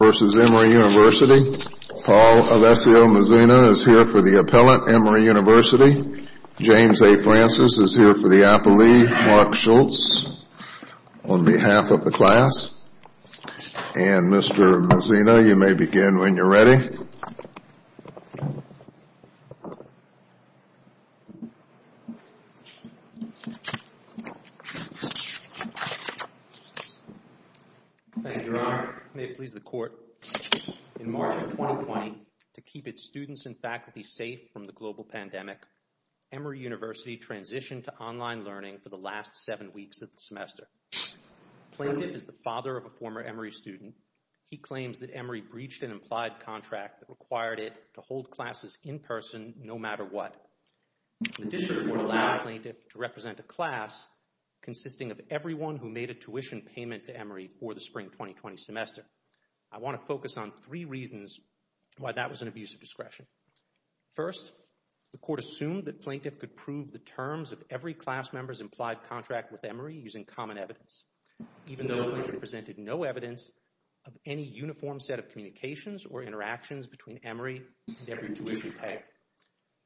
Paul Alessio Mazzina is here for the appellate, Emory University. James A. Francis is here for the appellee, Mark Schultz, on behalf of the class. And Mr. Mazzina, you may begin when you're ready. Thank you, Your Honor. May it please the Court, in March of 2020, to keep its students and faculty safe from the global pandemic, Emory University transitioned to online learning for the last seven weeks of the semester. Plaintiff is the father of a former Emory student. He claims that Emory breached an implied contract that required it to hold classes in person no matter what. The district court allowed the plaintiff to represent a class consisting of everyone who made a tuition payment to Emory for the spring 2020 semester. I want to focus on three reasons why that was an abuse of discretion. First, the court assumed that plaintiff could prove the terms of every class member's implied contract with Emory using common evidence, even though they presented no evidence of any uniform set of communications or interactions between Emory and every tuition payer.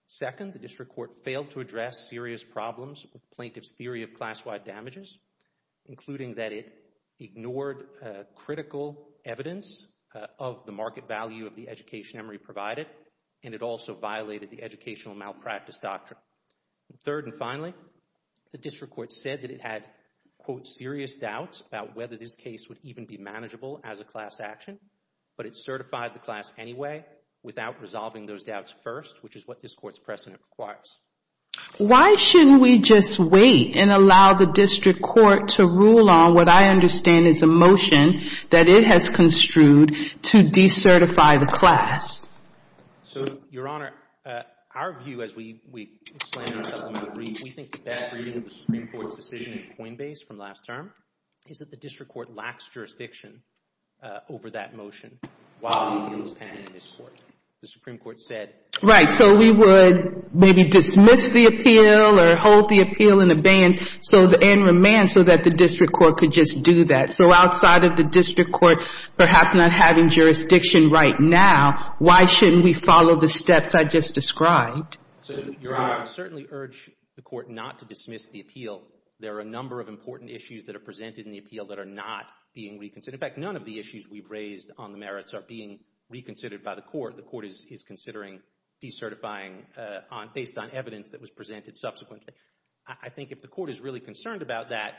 Second, the district court failed to address serious problems with plaintiff's theory of class-wide damages, including that it ignored critical evidence of the market value of the education Emory provided, and it also violated the educational malpractice doctrine. Third and finally, the district court said that it had, quote, serious doubts about whether this case would even be manageable as a class action, but it certified the class anyway without resolving those doubts first, which is what this court's precedent requires. Why shouldn't we just wait and allow the district court to rule on what I understand is a motion that it has construed to decertify the class? So, Your Honor, our view as we explain ourselves on the reach, we think the best reading of the Supreme Court's decision in Coinbase from last term is that the district court lacks jurisdiction over that motion while the appeal is pending in this court. The Supreme Court said... Right, so we would maybe dismiss the appeal or hold the appeal in abeyance and remand so that the district court could just do that. So outside of the district court perhaps not having jurisdiction right now, why shouldn't we follow the steps I just described? So, Your Honor, I certainly urge the court not to dismiss the appeal. There are a number of important issues that are presented in the appeal that are not being reconsidered. In fact, none of the issues we've raised on the merits are being reconsidered by the court. The court is considering decertifying based on evidence that was presented subsequently. I think if the court is really concerned about that,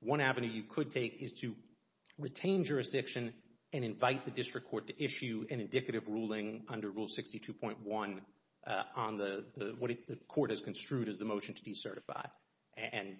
one avenue you could take is to retain jurisdiction and invite the district court to issue an indicative ruling under Rule 62.1 on what the court has construed as the motion to decertify.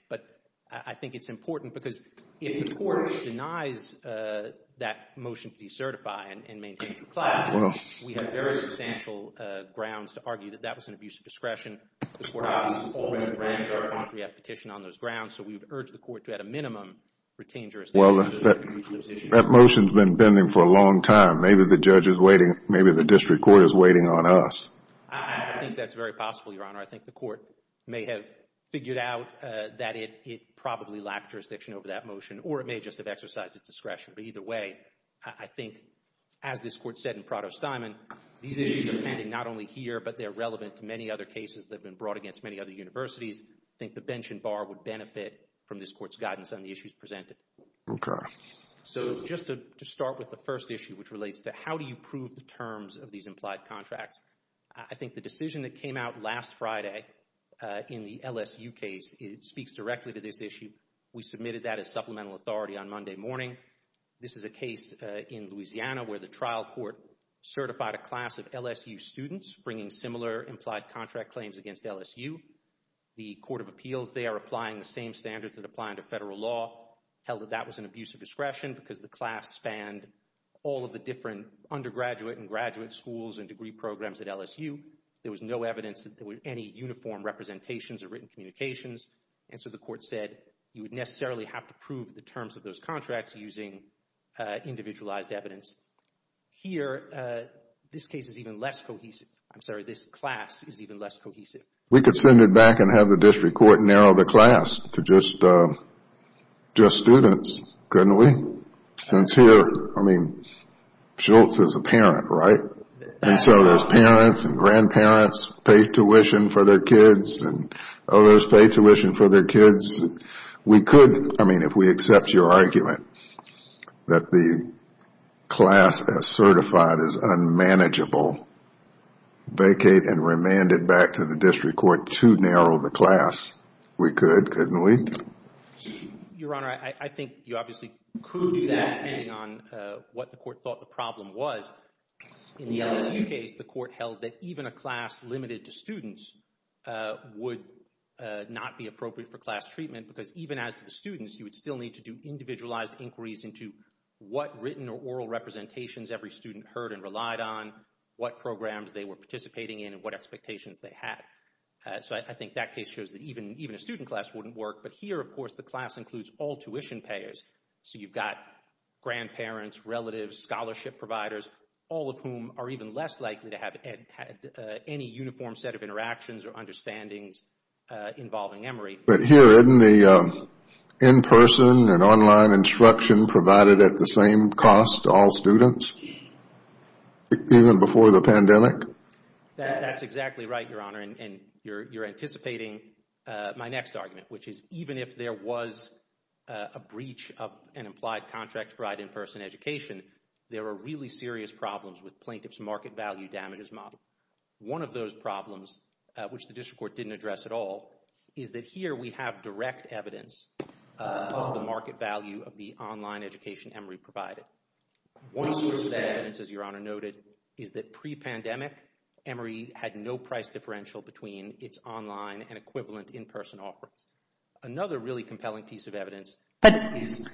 But I think it's important because if the court denies that motion to decertify and maintains the class, we have very substantial grounds to argue that that was an abuse of discretion. The court already has a petition on those grounds, so we would urge the court to at a minimum retain jurisdiction. Well, that motion's been pending for a long time. Maybe the judge is waiting. Maybe the district court is waiting on us. I think that's very possible, Your Honor. I think the court may have figured out that it probably lacked jurisdiction over that motion, or it may just have exercised its discretion. But either way, I think as this court said in Prado-Steinman, these issues are pending not only here, but they're relevant to many other cases that have been brought against many other universities. I think the bench and bar would benefit from this court's guidance on the issues presented. Okay. So just to start with the first issue, which relates to how do you prove the terms of these implied contracts, I think the decision that came out last Friday in the LSU case speaks directly to this issue. We submitted that as supplemental authority on Monday morning. This is a case in Louisiana where the trial court certified a class of LSU students bringing similar implied contract claims against LSU. The court of appeals there, applying the same standards that apply under federal law, held that that was an abuse of discretion because the class spanned all of the different undergraduate and graduate schools and degree programs at LSU. There was no evidence that there were any uniform representations or written communications. And so the court said you would necessarily have to prove the terms of those contracts using individualized evidence. Here, this case is even less cohesive. I'm sorry, this class is even less cohesive. We could send it back and have the district court narrow the class to just students, couldn't we? Since here, I mean, Schultz is a parent, right? And so there's parents and grandparents pay tuition for their kids and others pay tuition for their kids. We could, I mean, if we accept your argument that the class as certified is unmanageable, vacate and remand it back to the district court to narrow the class. We could, couldn't we? Your Honor, I think you obviously could do that depending on what the court thought the problem was. In the LSU case, the court held that even a class limited to students would not be appropriate for class treatment because even as the students, you would still need to do individualized inquiries into what written or oral representations every student heard and relied on, what programs they were participating in and what expectations they had. So I think that case shows that even a student class wouldn't work. But here, of course, the class includes all tuition payers. So you've got grandparents, relatives, scholarship providers, all of whom are even less likely to have any uniform set of interactions or understandings involving Emory. But here, isn't the in-person and online instruction provided at the same cost to all students? Even before the pandemic? That's exactly right, Your Honor. And you're anticipating my next argument, which is even if there was a breach of an implied contract to provide in-person education, there are really serious problems with plaintiff's market value damages model. One of those problems, which the district court didn't address at all, is that here we have direct evidence of the market value of the online education Emory provided. One source of that evidence, as Your Honor noted, is that pre-pandemic, Emory had no price differential between its online and equivalent in-person offerings. Another really compelling piece of evidence is... But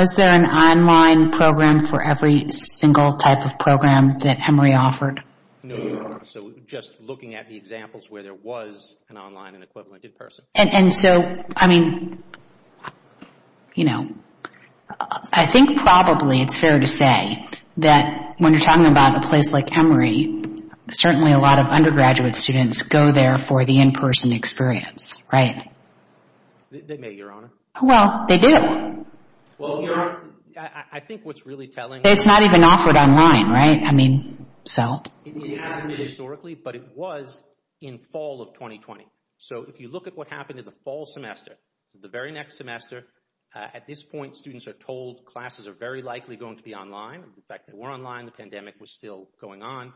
was there an online program for every single type of program that Emory offered? No, Your Honor. So just looking at the examples where there was an online and equivalent in-person. And so, I mean, you know, I think probably it's fair to say that when you're talking about a place like Emory, certainly a lot of undergraduate students go there for the in-person experience, right? They may, Your Honor. Well, they do. Well, Your Honor, I think what's really telling... It's not even offered online, right? I mean, so... It hasn't historically, but it was in fall of 2020. So if you look at what happened in the fall semester, the very next semester, at this point, students are told classes are very likely going to be online. In fact, they were online. The pandemic was still going on.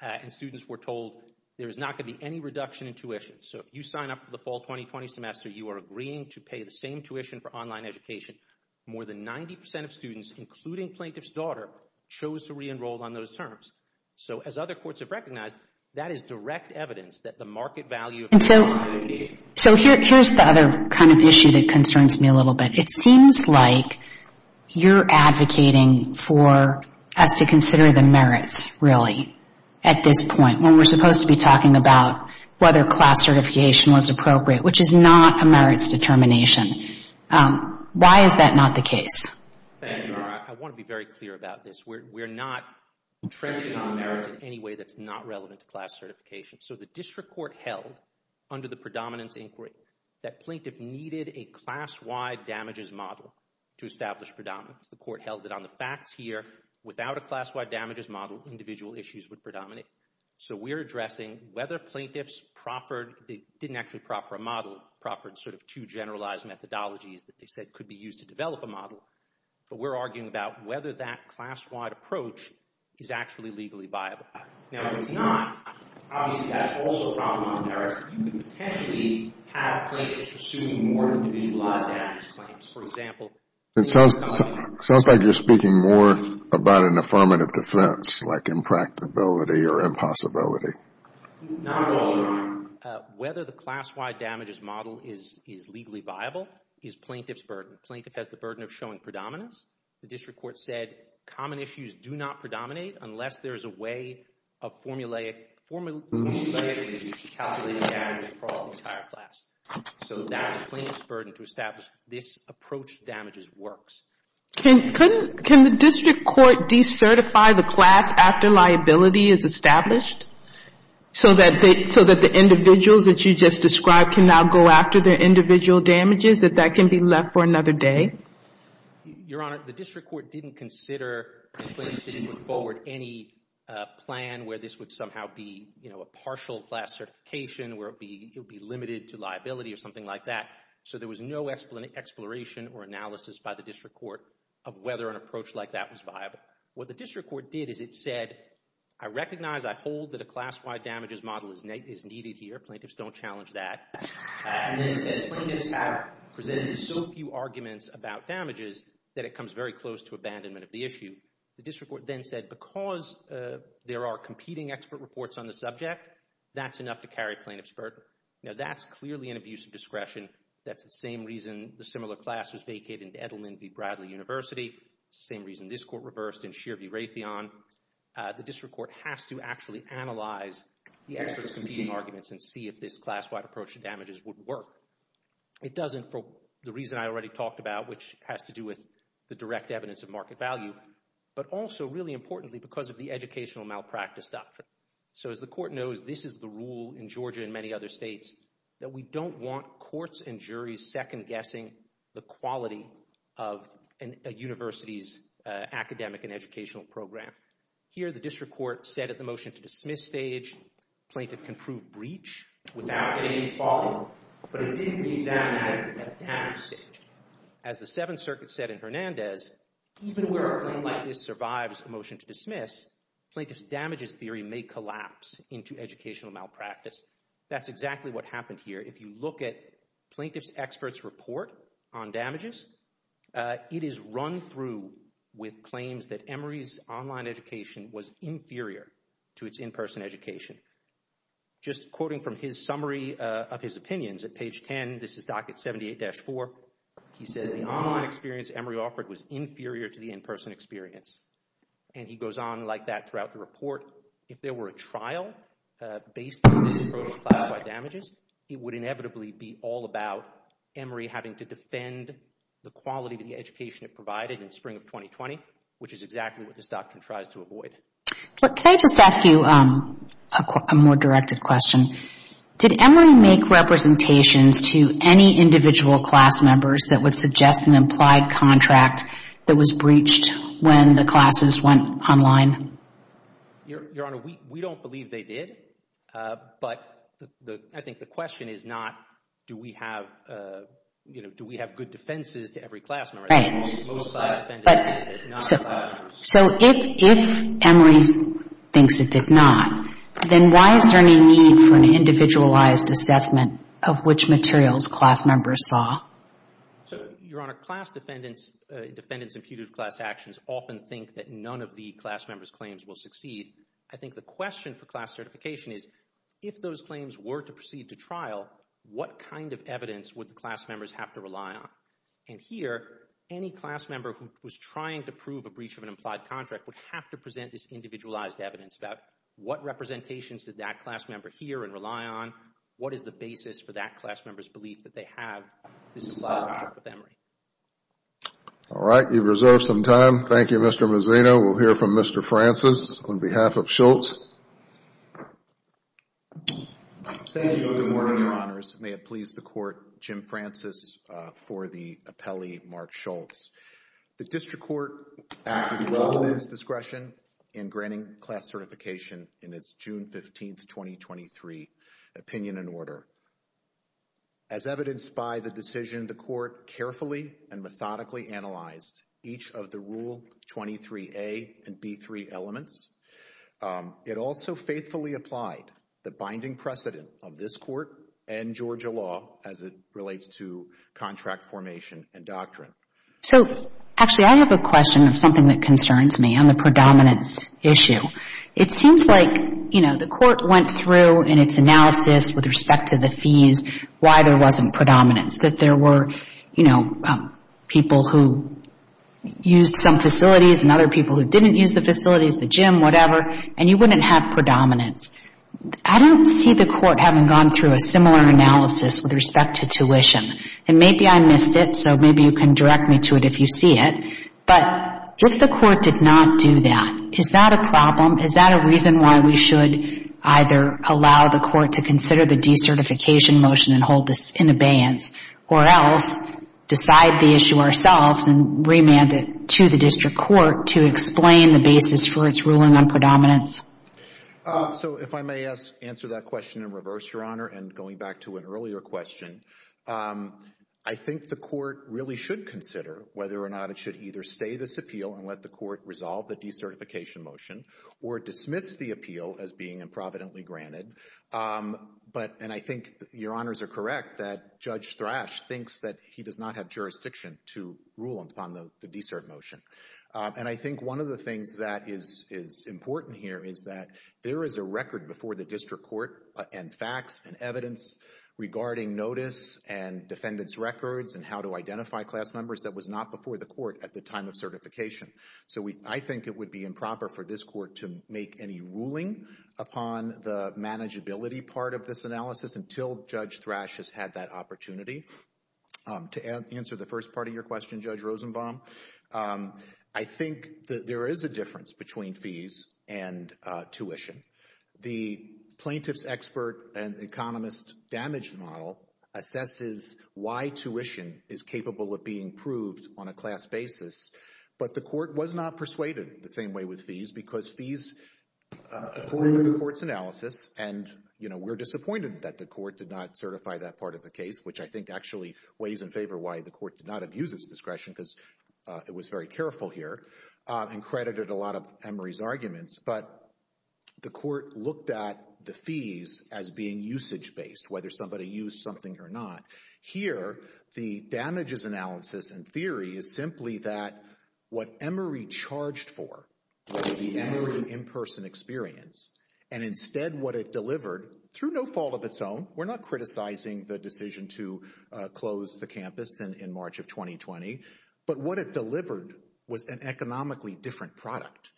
And students were told there is not going to be any reduction in tuition. So if you sign up for the fall 2020 semester, you are agreeing to pay the same tuition for online education. More than 90% of students, including plaintiff's daughter, chose to re-enroll on those terms. So as other courts have recognized, that is direct evidence that the market value... So here's the other kind of issue that concerns me a little bit. It seems like you're advocating for us to consider the merits, really, at this point, when we're supposed to be talking about whether class certification was appropriate, which is not a merits determination. Why is that not the case? Thank you, Your Honor. I want to be very clear about this. We're not trenching on merits in any way that's not relevant to class certification. So the district court held, under the predominance inquiry, that plaintiff needed a class-wide damages model to establish predominance. The court held that on the facts here, without a class-wide damages model, individual issues would predominate. So we're addressing whether plaintiffs proffered... They didn't actually proffer a model, proffered sort of two generalized methodologies that they said could be used to develop a model. But we're arguing about whether that class-wide approach is actually legally viable. Now, if it's not, obviously, that's also a problem on merits. You could potentially have plaintiffs pursue more individualized damages claims. For example... It sounds like you're speaking more about an affirmative defense, like impracticability or impossibility. Not at all, Your Honor. Whether the class-wide damages model is legally viable is plaintiff's burden. Plaintiff has the burden of showing predominance. The district court said common issues do not predominate unless there is a way of formulaic issues to calculate damages across the entire class. So that was plaintiff's burden to establish this approach to damages works. Can the district court decertify the class after liability is established? So that the individuals that you just described can now go after their individual damages, that that can be left for another day? Your Honor, the district court didn't consider, the plaintiffs didn't put forward any plan where this would somehow be, you know, a partial class certification, where it would be limited to liability or something like that. So there was no explanation or analysis by the district court of whether an approach like that was viable. What the district court did is it said, I recognize, I hold that a class-wide damages model is needed here. Plaintiffs don't challenge that. And then it said plaintiffs have presented so few arguments about damages that it comes very close to abandonment of the issue. The district court then said, because there are competing expert reports on the subject, that's enough to carry plaintiff's burden. Now that's clearly an abuse of discretion. That's the same reason the similar class was vacated in Edelman v. Bradley University. It's the same reason this court reversed in Shear v. Raytheon. The district court has to actually analyze the experts' competing arguments and see if this class-wide approach to damages would work. It doesn't for the reason I already talked about, which has to do with the direct evidence of market value, but also, really importantly, because of the educational malpractice doctrine. So as the court knows, this is the rule in Georgia and many other states that we don't want courts and juries second-guessing the quality of a university's academic and educational program. Here, the district court said at the motion to dismiss stage, plaintiff can prove breach without any following. But it didn't be examined at the damage stage. As the Seventh Circuit said in Hernandez, even where a claim like this survives a motion to dismiss, plaintiff's damages theory may collapse into educational malpractice. That's exactly what happened here. If you look at plaintiff's experts' report on damages, it is run through with claims that Emory's online education was inferior to its in-person education. Just quoting from his summary of his opinions at page 10, this is docket 78-4. He says the online experience Emory offered was inferior to the in-person experience. And he goes on like that throughout the report. If there were a trial based on this approach to class-wide damages, it would inevitably be all about Emory having to defend the quality of the education it provided in spring of 2020, which is exactly what this doctrine tries to avoid. Can I just ask you a more directed question? Did Emory make representations to any individual class members that would suggest an implied contract that was breached when the classes went online? Your Honor, we don't believe they did. But I think the question is not do we have, you know, do we have good defenses to every class member. Right. But so if Emory thinks it did not, then why is there any need for an individualized assessment of which materials class members saw? So, Your Honor, class defendants' imputed class actions often think that none of the class members' claims will succeed. I think the question for class certification is if those claims were to proceed to trial, what kind of evidence would the class members have to rely on? And here, any class member who was trying to prove a breach of an implied contract would have to present this individualized evidence about what representations did that class member hear and rely on? What is the basis for that class member's belief that they have this implied contract with Emory? All right. You've reserved some time. Thank you, Mr. Mazzino. We'll hear from Mr. Francis on behalf of Schultz. Thank you and good morning, Your Honors. May it please the Court, Jim Francis for the appellee, Mark Schultz. The District Court acted with its discretion in granting class certification in its June 15, 2023, opinion and order. As evidenced by the decision, the Court carefully and methodically analyzed each of the Rule 23A and B3 elements. It also faithfully applied the binding precedent of this Court and Georgia law as it relates to contract formation and doctrine. So, actually, I have a question of something that concerns me on the predominance issue. It seems like, you know, the Court went through in its analysis with respect to the fees why there wasn't predominance, that there were, you know, people who used some facilities and other people who didn't use the facilities, the gym, whatever, and you wouldn't have predominance. I don't see the Court having gone through a similar analysis with respect to tuition, and maybe I missed it, so maybe you can direct me to it if you see it, but if the Court did not do that, is that a problem? Is that a reason why we should either allow the Court to consider the decertification motion and hold this in abeyance or else decide the issue ourselves and remand it to the District Court to explain the basis for its ruling on predominance? So, if I may answer that question in reverse, Your Honor, and going back to an earlier question, I think the Court really should consider whether or not it should either stay this appeal and let the Court resolve the decertification motion or dismiss the appeal as being improvidently granted, but, and I think Your Honors are correct, that Judge Thrash thinks that he does not have jurisdiction to rule upon the decert motion, and I think one of the things that is important here is that there is a record before the District Court and facts and evidence regarding notice and defendant's records and how to identify class numbers that was not before the Court at the time of certification. So, I think it would be improper for this Court to make any ruling upon the manageability part of this analysis until Judge Thrash has had that opportunity. To answer the first part of your question, Judge Rosenbaum, I think that there is a difference between fees and tuition. The plaintiff's expert and economist damage model assesses why tuition is capable of being proved on a class basis, but the Court was not persuaded the same way with fees because fees, according to the Court's analysis, and, you know, we're disappointed that the Court did not certify that part of the case, which I think actually weighs in favor why the Court did not abuse its discretion because it was very careful here, and credited a lot of Emory's arguments, but the Court looked at the fees as being usage-based, whether somebody used something or not. Here, the damages analysis and theory is simply that what Emory charged for was the Emory in-person experience, and instead what it delivered, through no fault of its own, we're not criticizing the decision to close the campus in March of 2020, but what it delivered was an economically different product.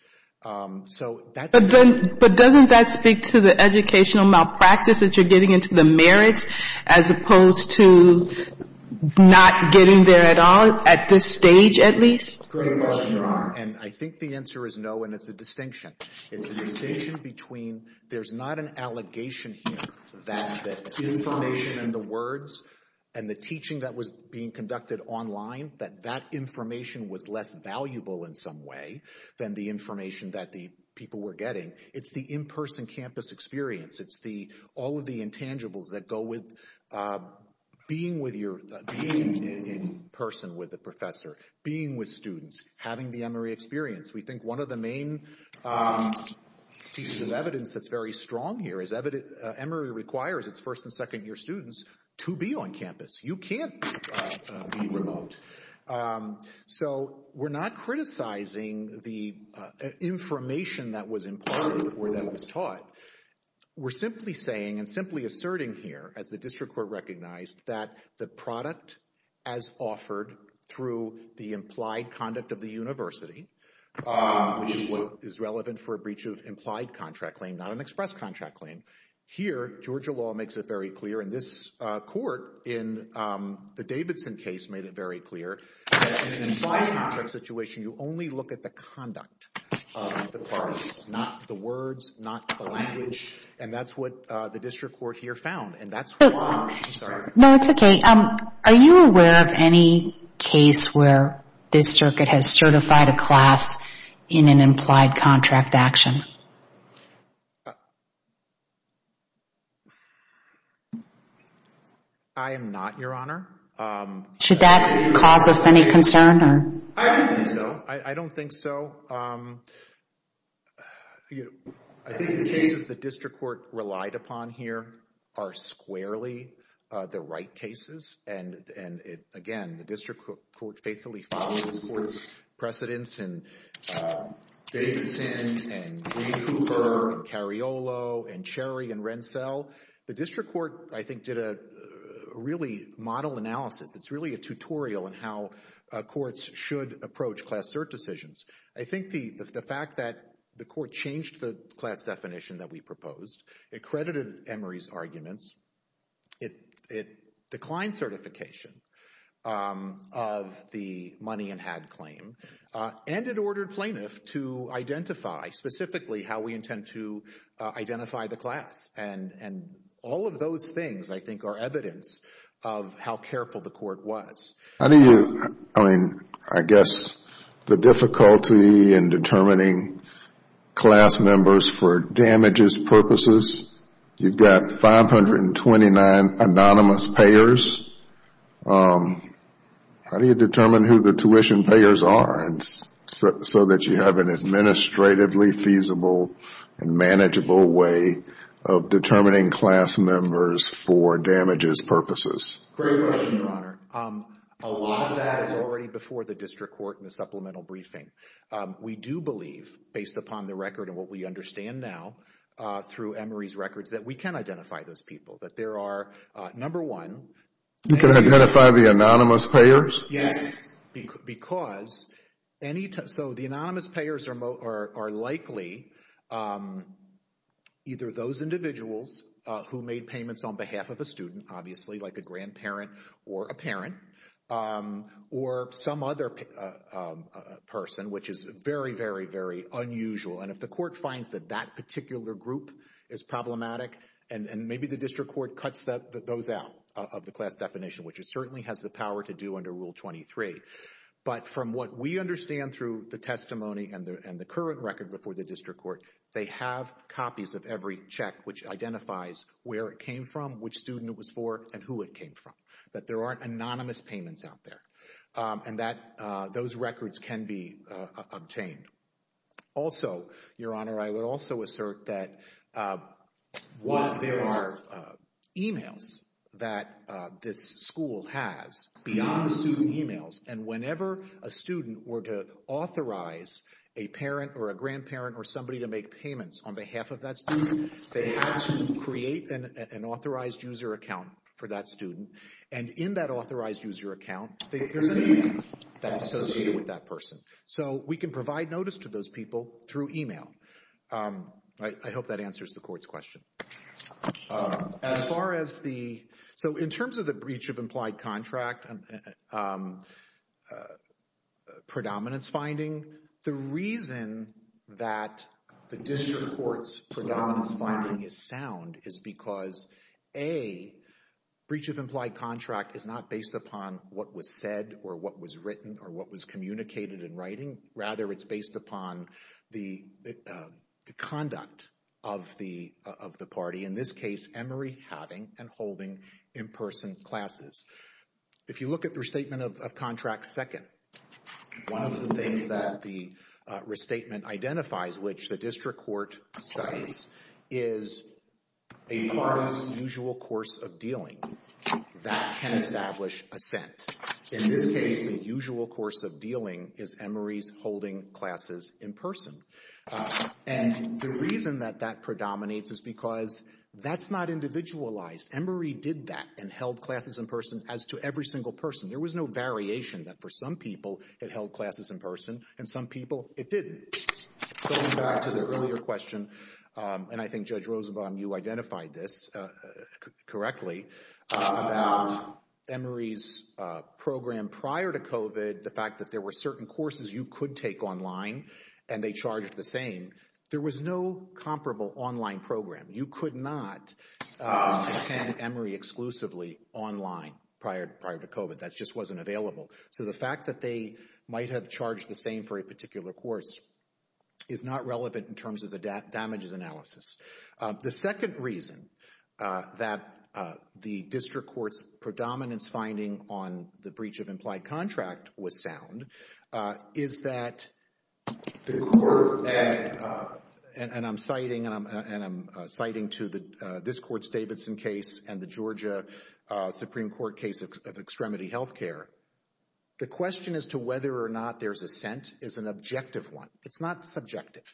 So that's... But doesn't that speak to the educational malpractice that you're getting into the merits as opposed to not getting there at all, at this stage at least? And I think the answer is no, and it's a distinction. It's a distinction between there's not an allegation here that the information and the words and the teaching that was being conducted online, that that information was less valuable in some way than the information that the people were getting. It's the in-person campus experience. It's all of the intangibles that go with being with your... being in person with the professor, being with students, having the Emory experience. We think one of the main pieces of evidence that's very strong here is Emory requires its first and second year students to be on campus. You can't be remote. So we're not criticizing the information that was imparted or that was taught. We're simply saying and simply asserting here, as the district court recognized, that the product as offered through the implied conduct of the university, which is what is relevant for a breach of implied contract claim, not an express contract claim. Here, Georgia law makes it very clear in this court, in the Davidson case, made it very clear that in an implied contract situation, you only look at the conduct of the parties, not the words, not the language. And that's what the district court here found. And that's... No, it's okay. Are you aware of any case where this circuit has certified a class in an implied contract action? I am not, Your Honor. Should that cause us any concern? I don't think so. I don't think so. I think the cases the district court relied upon here are squarely the right cases. And again, the district court faithfully follows the court's precedents in Davidson and Ray Cooper and Cariolo and Cherry and Renssel. The district court, I think, did a really model analysis. It's really a tutorial on how courts should approach class cert decisions. I think the fact that the court changed the class definition that we proposed, it credited Emory's arguments, it declined certification of the money and had claim, and it ordered plaintiff to identify, specifically how we intend to identify the class and all of those things, I think, are evidence of how careful the court was. How do you, I mean, I guess the difficulty in determining class members for damages purposes, you've got 529 anonymous payers. How do you determine who the tuition payers are so that you have an administratively feasible and manageable way of determining class members for damages purposes? Great question, Your Honor. A lot of that is already before the district court in the supplemental briefing. We do believe, based upon the record and what we understand now through Emory's records, that we can identify those people. That there are, number one- You can identify the anonymous payers? Yes, because any time, so the anonymous payers are likely either those individuals who made payments on behalf of a student, obviously, like a grandparent or a parent, or some other person, which is very, very, very unusual. And if the court finds that that particular group is problematic, and maybe the district court cuts those out of the class definition, which it certainly has the power to do under Rule 23. But from what we understand through the testimony and the current record before the district court, they have copies of every check which identifies where it came from, which student it was for, and who it came from. That there aren't anonymous payments out there. And that those records can be obtained. Also, Your Honor, I would also assert that while there are emails that this school has beyond student emails, and whenever a student were to authorize a parent or a grandparent or somebody to make payments on behalf of that student, they have to create an authorized user account for that student. And in that authorized user account, that's associated with that person. So we can provide notice to those people through email. I hope that answers the court's question. As far as the- So in terms of the breach of implied contract, and predominance finding, the reason that the district court's predominance finding is sound is because A, breach of implied contract is not based upon what was said or what was written or what was communicated in writing. Rather, it's based upon the conduct of the party. In this case, Emery having and holding in-person classes. If you look at the restatement of contract second, one of the things that the restatement identifies, which the district court cites, is a party's usual course of dealing that can establish assent. In this case, the usual course of dealing is Emery's holding classes in person. And the reason that that predominates is because that's not individualized. Emery did that and held classes in person as to every single person. There was no variation that for some people it held classes in person and some people it didn't. Going back to the earlier question, and I think Judge Roosevelt, you identified this correctly, about Emery's program prior to COVID, the fact that there were certain courses you could take online and they charged the same. There was no comparable online program. You could not attend Emery exclusively online prior to COVID. That just wasn't available. So the fact that they might have charged the same for a particular course is not relevant in terms of the damages analysis. The second reason that the district court's predominance finding on the breach of implied contract was sound is that the court, and I'm citing to this court's Davidson case and the Georgia Supreme Court case of extremity healthcare, the question as to whether or not there's assent is an objective one. It's not subjective.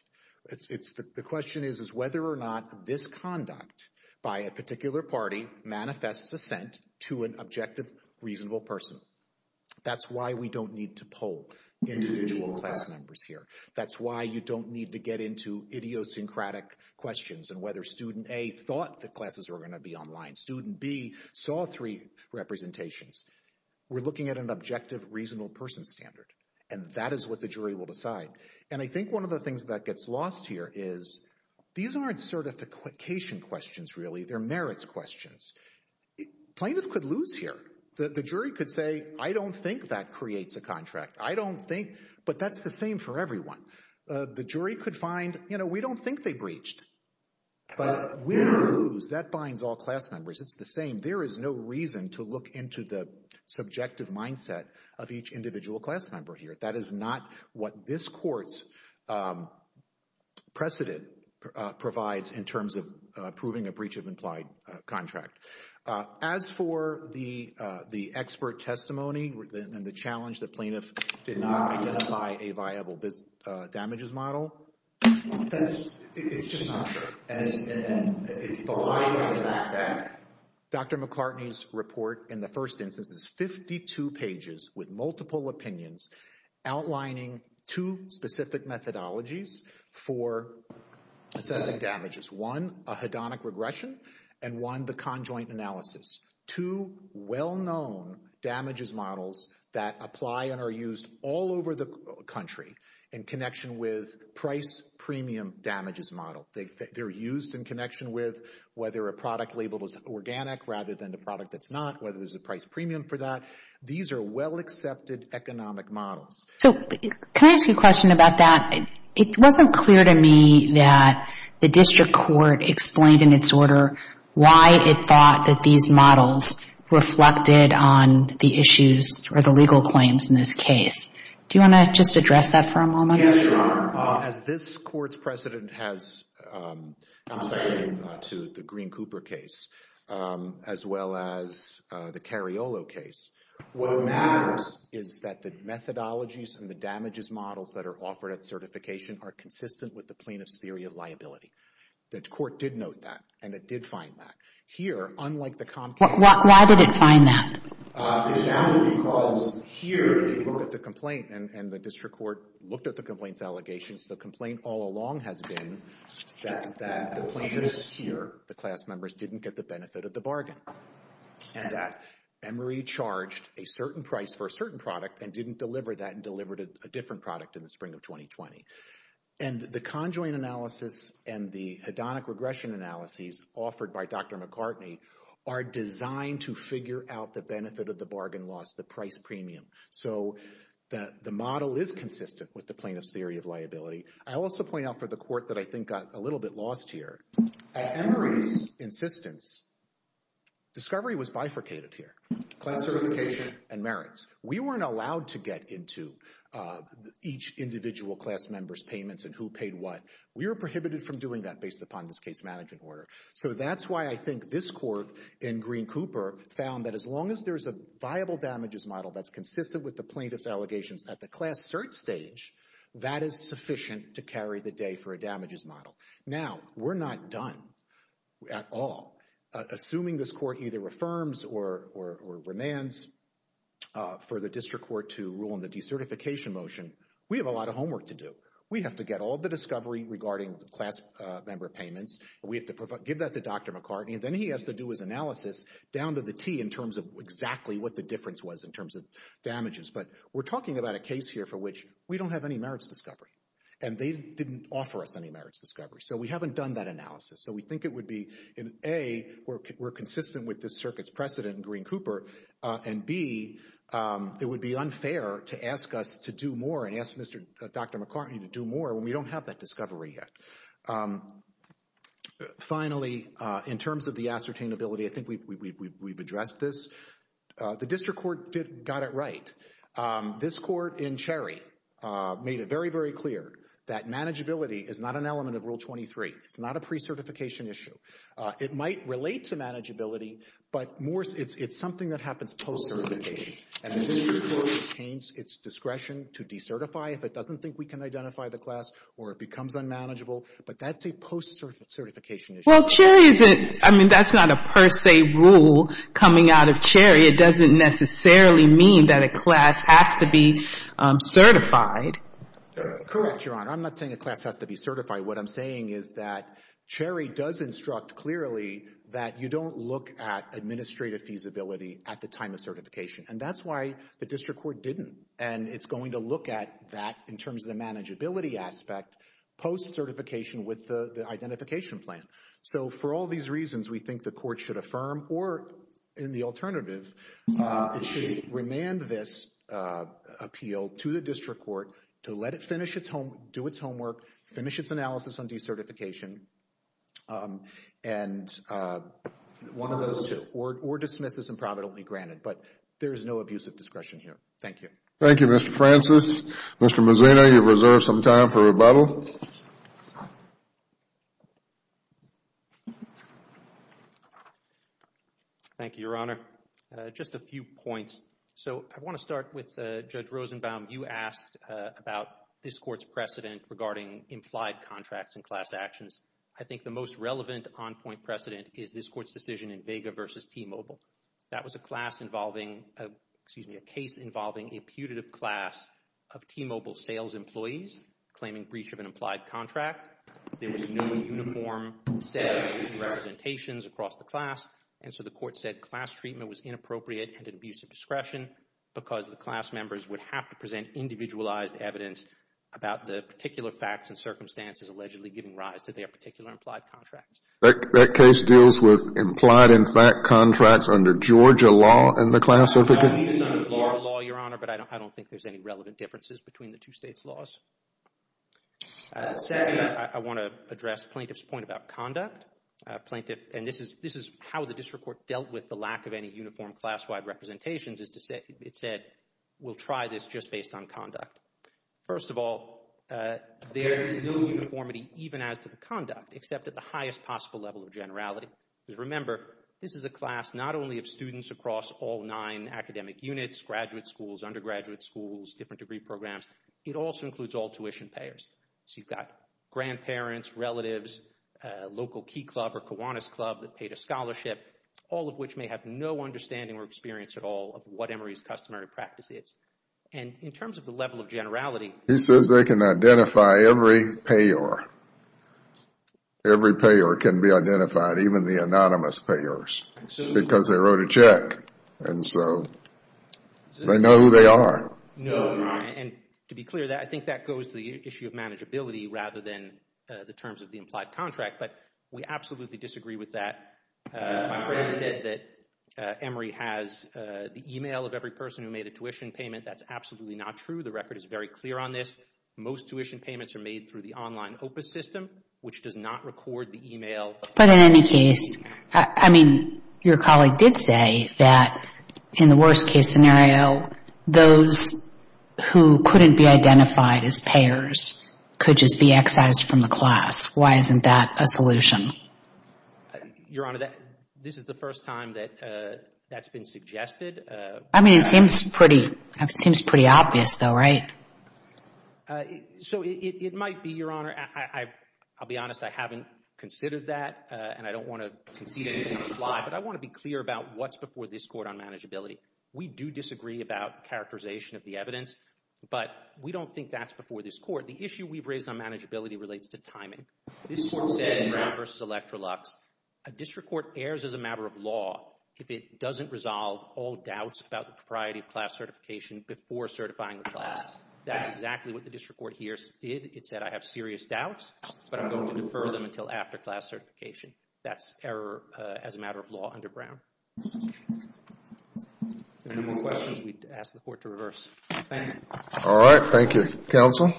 The question is whether or not this conduct by a particular party manifests assent to an objective, reasonable person. That's why we don't need to pull individual class numbers here. That's why you don't need to get into idiosyncratic questions and whether student A thought the classes were gonna be online. Student B saw three representations. We're looking at an objective, reasonable person standard and that is what the jury will decide. And I think one of the things that gets lost here is these aren't certification questions, really. They're merits questions. Plaintiff could lose here. The jury could say, I don't think that creates a contract. I don't think, but that's the same for everyone. The jury could find, you know, we don't think they breached, but we lose. That binds all class numbers. It's the same. There is no reason to look into the subjective mindset of each individual class member here. That is not what this court's precedent provides in terms of proving a breach of implied contract. As for the expert testimony and the challenge that plaintiff did not identify a viable damages model, it's just not true. Dr. McCartney's report in the first instance is 52 pages with multiple opinions outlining two specific methodologies for assessing damages. One, a hedonic regression and one, the conjoint analysis. Two well-known damages models that apply and are used all over the country in connection with price premium damages model. They're used in connection with whether a product label is organic rather than the product that's not, whether there's a price premium for that. These are well-accepted economic models. So can I ask you a question about that? It wasn't clear to me that the district court explained in its order why it thought that these models reflected on the issues or the legal claims in this case. Do you want to just address that for a moment? Yes, Your Honor. As this court's precedent has to the Green-Cooper case as well as the Cariolo case, what matters is that the methodologies and the damages models that are offered at certification are consistent with the plaintiff's theory of liability. The court did note that and it did find that. Here, unlike the Comcast case... Why did it find that? It found it because here, if you look at the complaint and the district court looked at the complaint's allegations, the complaint all along has been that the plaintiffs here, the class members, didn't get the benefit of the bargain and that Emory charged a certain price for a certain product and didn't deliver that and delivered a different product in the spring of 2020. And the conjoined analysis and the hedonic regression analyses offered by Dr. McCartney are designed to figure out the benefit of the bargain loss, the price premium. So the model is consistent with the plaintiff's theory of liability. I also point out for the court that I think got a little bit lost here, at Emory's insistence, discovery was bifurcated here. Class certification and merits. We weren't allowed to get into each individual class member's payments and who paid what. We were prohibited from doing that based upon this case management order. So that's why I think this court in Green-Cooper found that as long as there's a viable damages model that's consistent with the plaintiff's allegations at the class cert stage, that is sufficient to carry the day for a damages model. Now, we're not done at all. Assuming this court either reaffirms or remands for the district court to rule on the decertification motion, we have a lot of homework to do. We have to get all the discovery regarding the class member payments. We have to give that to Dr. McCartney, and then he has to do his analysis down to the T in terms of exactly what the difference was in terms of damages. But we're talking about a case here for which we don't have any merits discovery and they didn't offer us any merits discovery. So we haven't done that analysis. So we think it would be, in A, we're consistent with this circuit's precedent in Green-Cooper, and B, it would be unfair to ask us to do more and ask Dr. McCartney to do more when we don't have that discovery yet. Finally, in terms of the ascertainability, I think we've addressed this. The district court got it right. This court in Cherry made it very, very clear that manageability is not an element of Rule 23. It's not a pre-certification issue. It might relate to manageability, but it's something that happens post-certification, and the district court retains its discretion to decertify if it doesn't think we can identify the class or it becomes unmanageable. But that's a post-certification issue. Well, Cherry isn't, I mean, that's not a per se rule coming out of Cherry. It doesn't necessarily mean that a class has to be certified. Correct, Your Honor. I'm not saying a class has to be certified. What I'm saying is that Cherry does instruct clearly that you don't look at administrative feasibility at the time of certification. And that's why the district court didn't. And it's going to look at that in terms of the manageability aspect post-certification with the identification plan. So for all these reasons, we think the court should affirm or in the alternative, it should remand this appeal to the district court to let it finish its home, do its homework, finish its analysis on decertification. And one of those two, or dismiss this improvidently granted. But there is no abuse of discretion here. Thank you. Thank you, Mr. Francis. Mr. Mazzino, you've reserved some time for rebuttal. Thank you, Your Honor. Just a few points. So I want to start with Judge Rosenbaum. You asked about this court's precedent regarding implied contracts and class actions. I think the most relevant on point precedent is this court's decision in Vega versus T-Mobile. That was a class involving, excuse me, a case involving a putative class of T-Mobile sales employees claiming breach of an implied contract. There was no uniform set of representations across the class. And so the court said class treatment was inappropriate and an abuse of discretion because the class members would have to present individualized evidence about the particular facts and circumstances allegedly giving rise to their particular implied contracts. That case deals with implied and fact contracts under Georgia law in the classificant? It is under Florida law, Your Honor, but I don't think there's any relevant differences between the two states' laws. Second, I want to address plaintiff's point about conduct. Plaintiff, and this is how the district court dealt with the lack of any uniform class-wide representations, is to say, it said, we'll try this just based on conduct. First of all, there is no uniformity even as to the conduct, except at the highest possible level of generality. Remember, this is a class not only of students across all nine academic units, graduate schools, undergraduate schools, different degree programs. It also includes all tuition payers. So you've got grandparents, relatives, local Key Club or Kiwanis Club that paid a scholarship, all of which may have no understanding or experience at all of what Emory's customary practice is. And in terms of the level of generality... He says they can identify every payor. Every payor can be identified, even the anonymous payors, because they wrote a check. And so they know who they are. No, and to be clear, I think that goes to the issue of manageability rather than the terms of the implied contract. But we absolutely disagree with that. My friend said that Emory has the email of every person who made a tuition payment. That's absolutely not true. The record is very clear on this. Most tuition payments are made through the online OPUS system, which does not record the email. But in any case, I mean, your colleague did say that in the worst case scenario, those who couldn't be identified as payors could just be excised from the class. Why isn't that a solution? Your Honor, this is the first time that that's been suggested. I mean, it seems pretty obvious, though, right? So it might be, Your Honor. I'll be honest, I haven't considered that and I don't want to concede anything or lie, but I want to be clear about what's before this court on manageability. We do disagree about characterization of the evidence, but we don't think that's before this court. The issue we've raised on manageability relates to timing. This court said in Brown v. Electrolux, a district court errs as a matter of law if it doesn't resolve all doubts about the propriety of class certification before certifying the class. That's exactly what the district court here did. It said, I have serious doubts, but I'm going to defer them until after class certification. That's error as a matter of law under Brown. If there are no more questions, we ask the court to reverse. Thank you. All right. Thank you, counsel.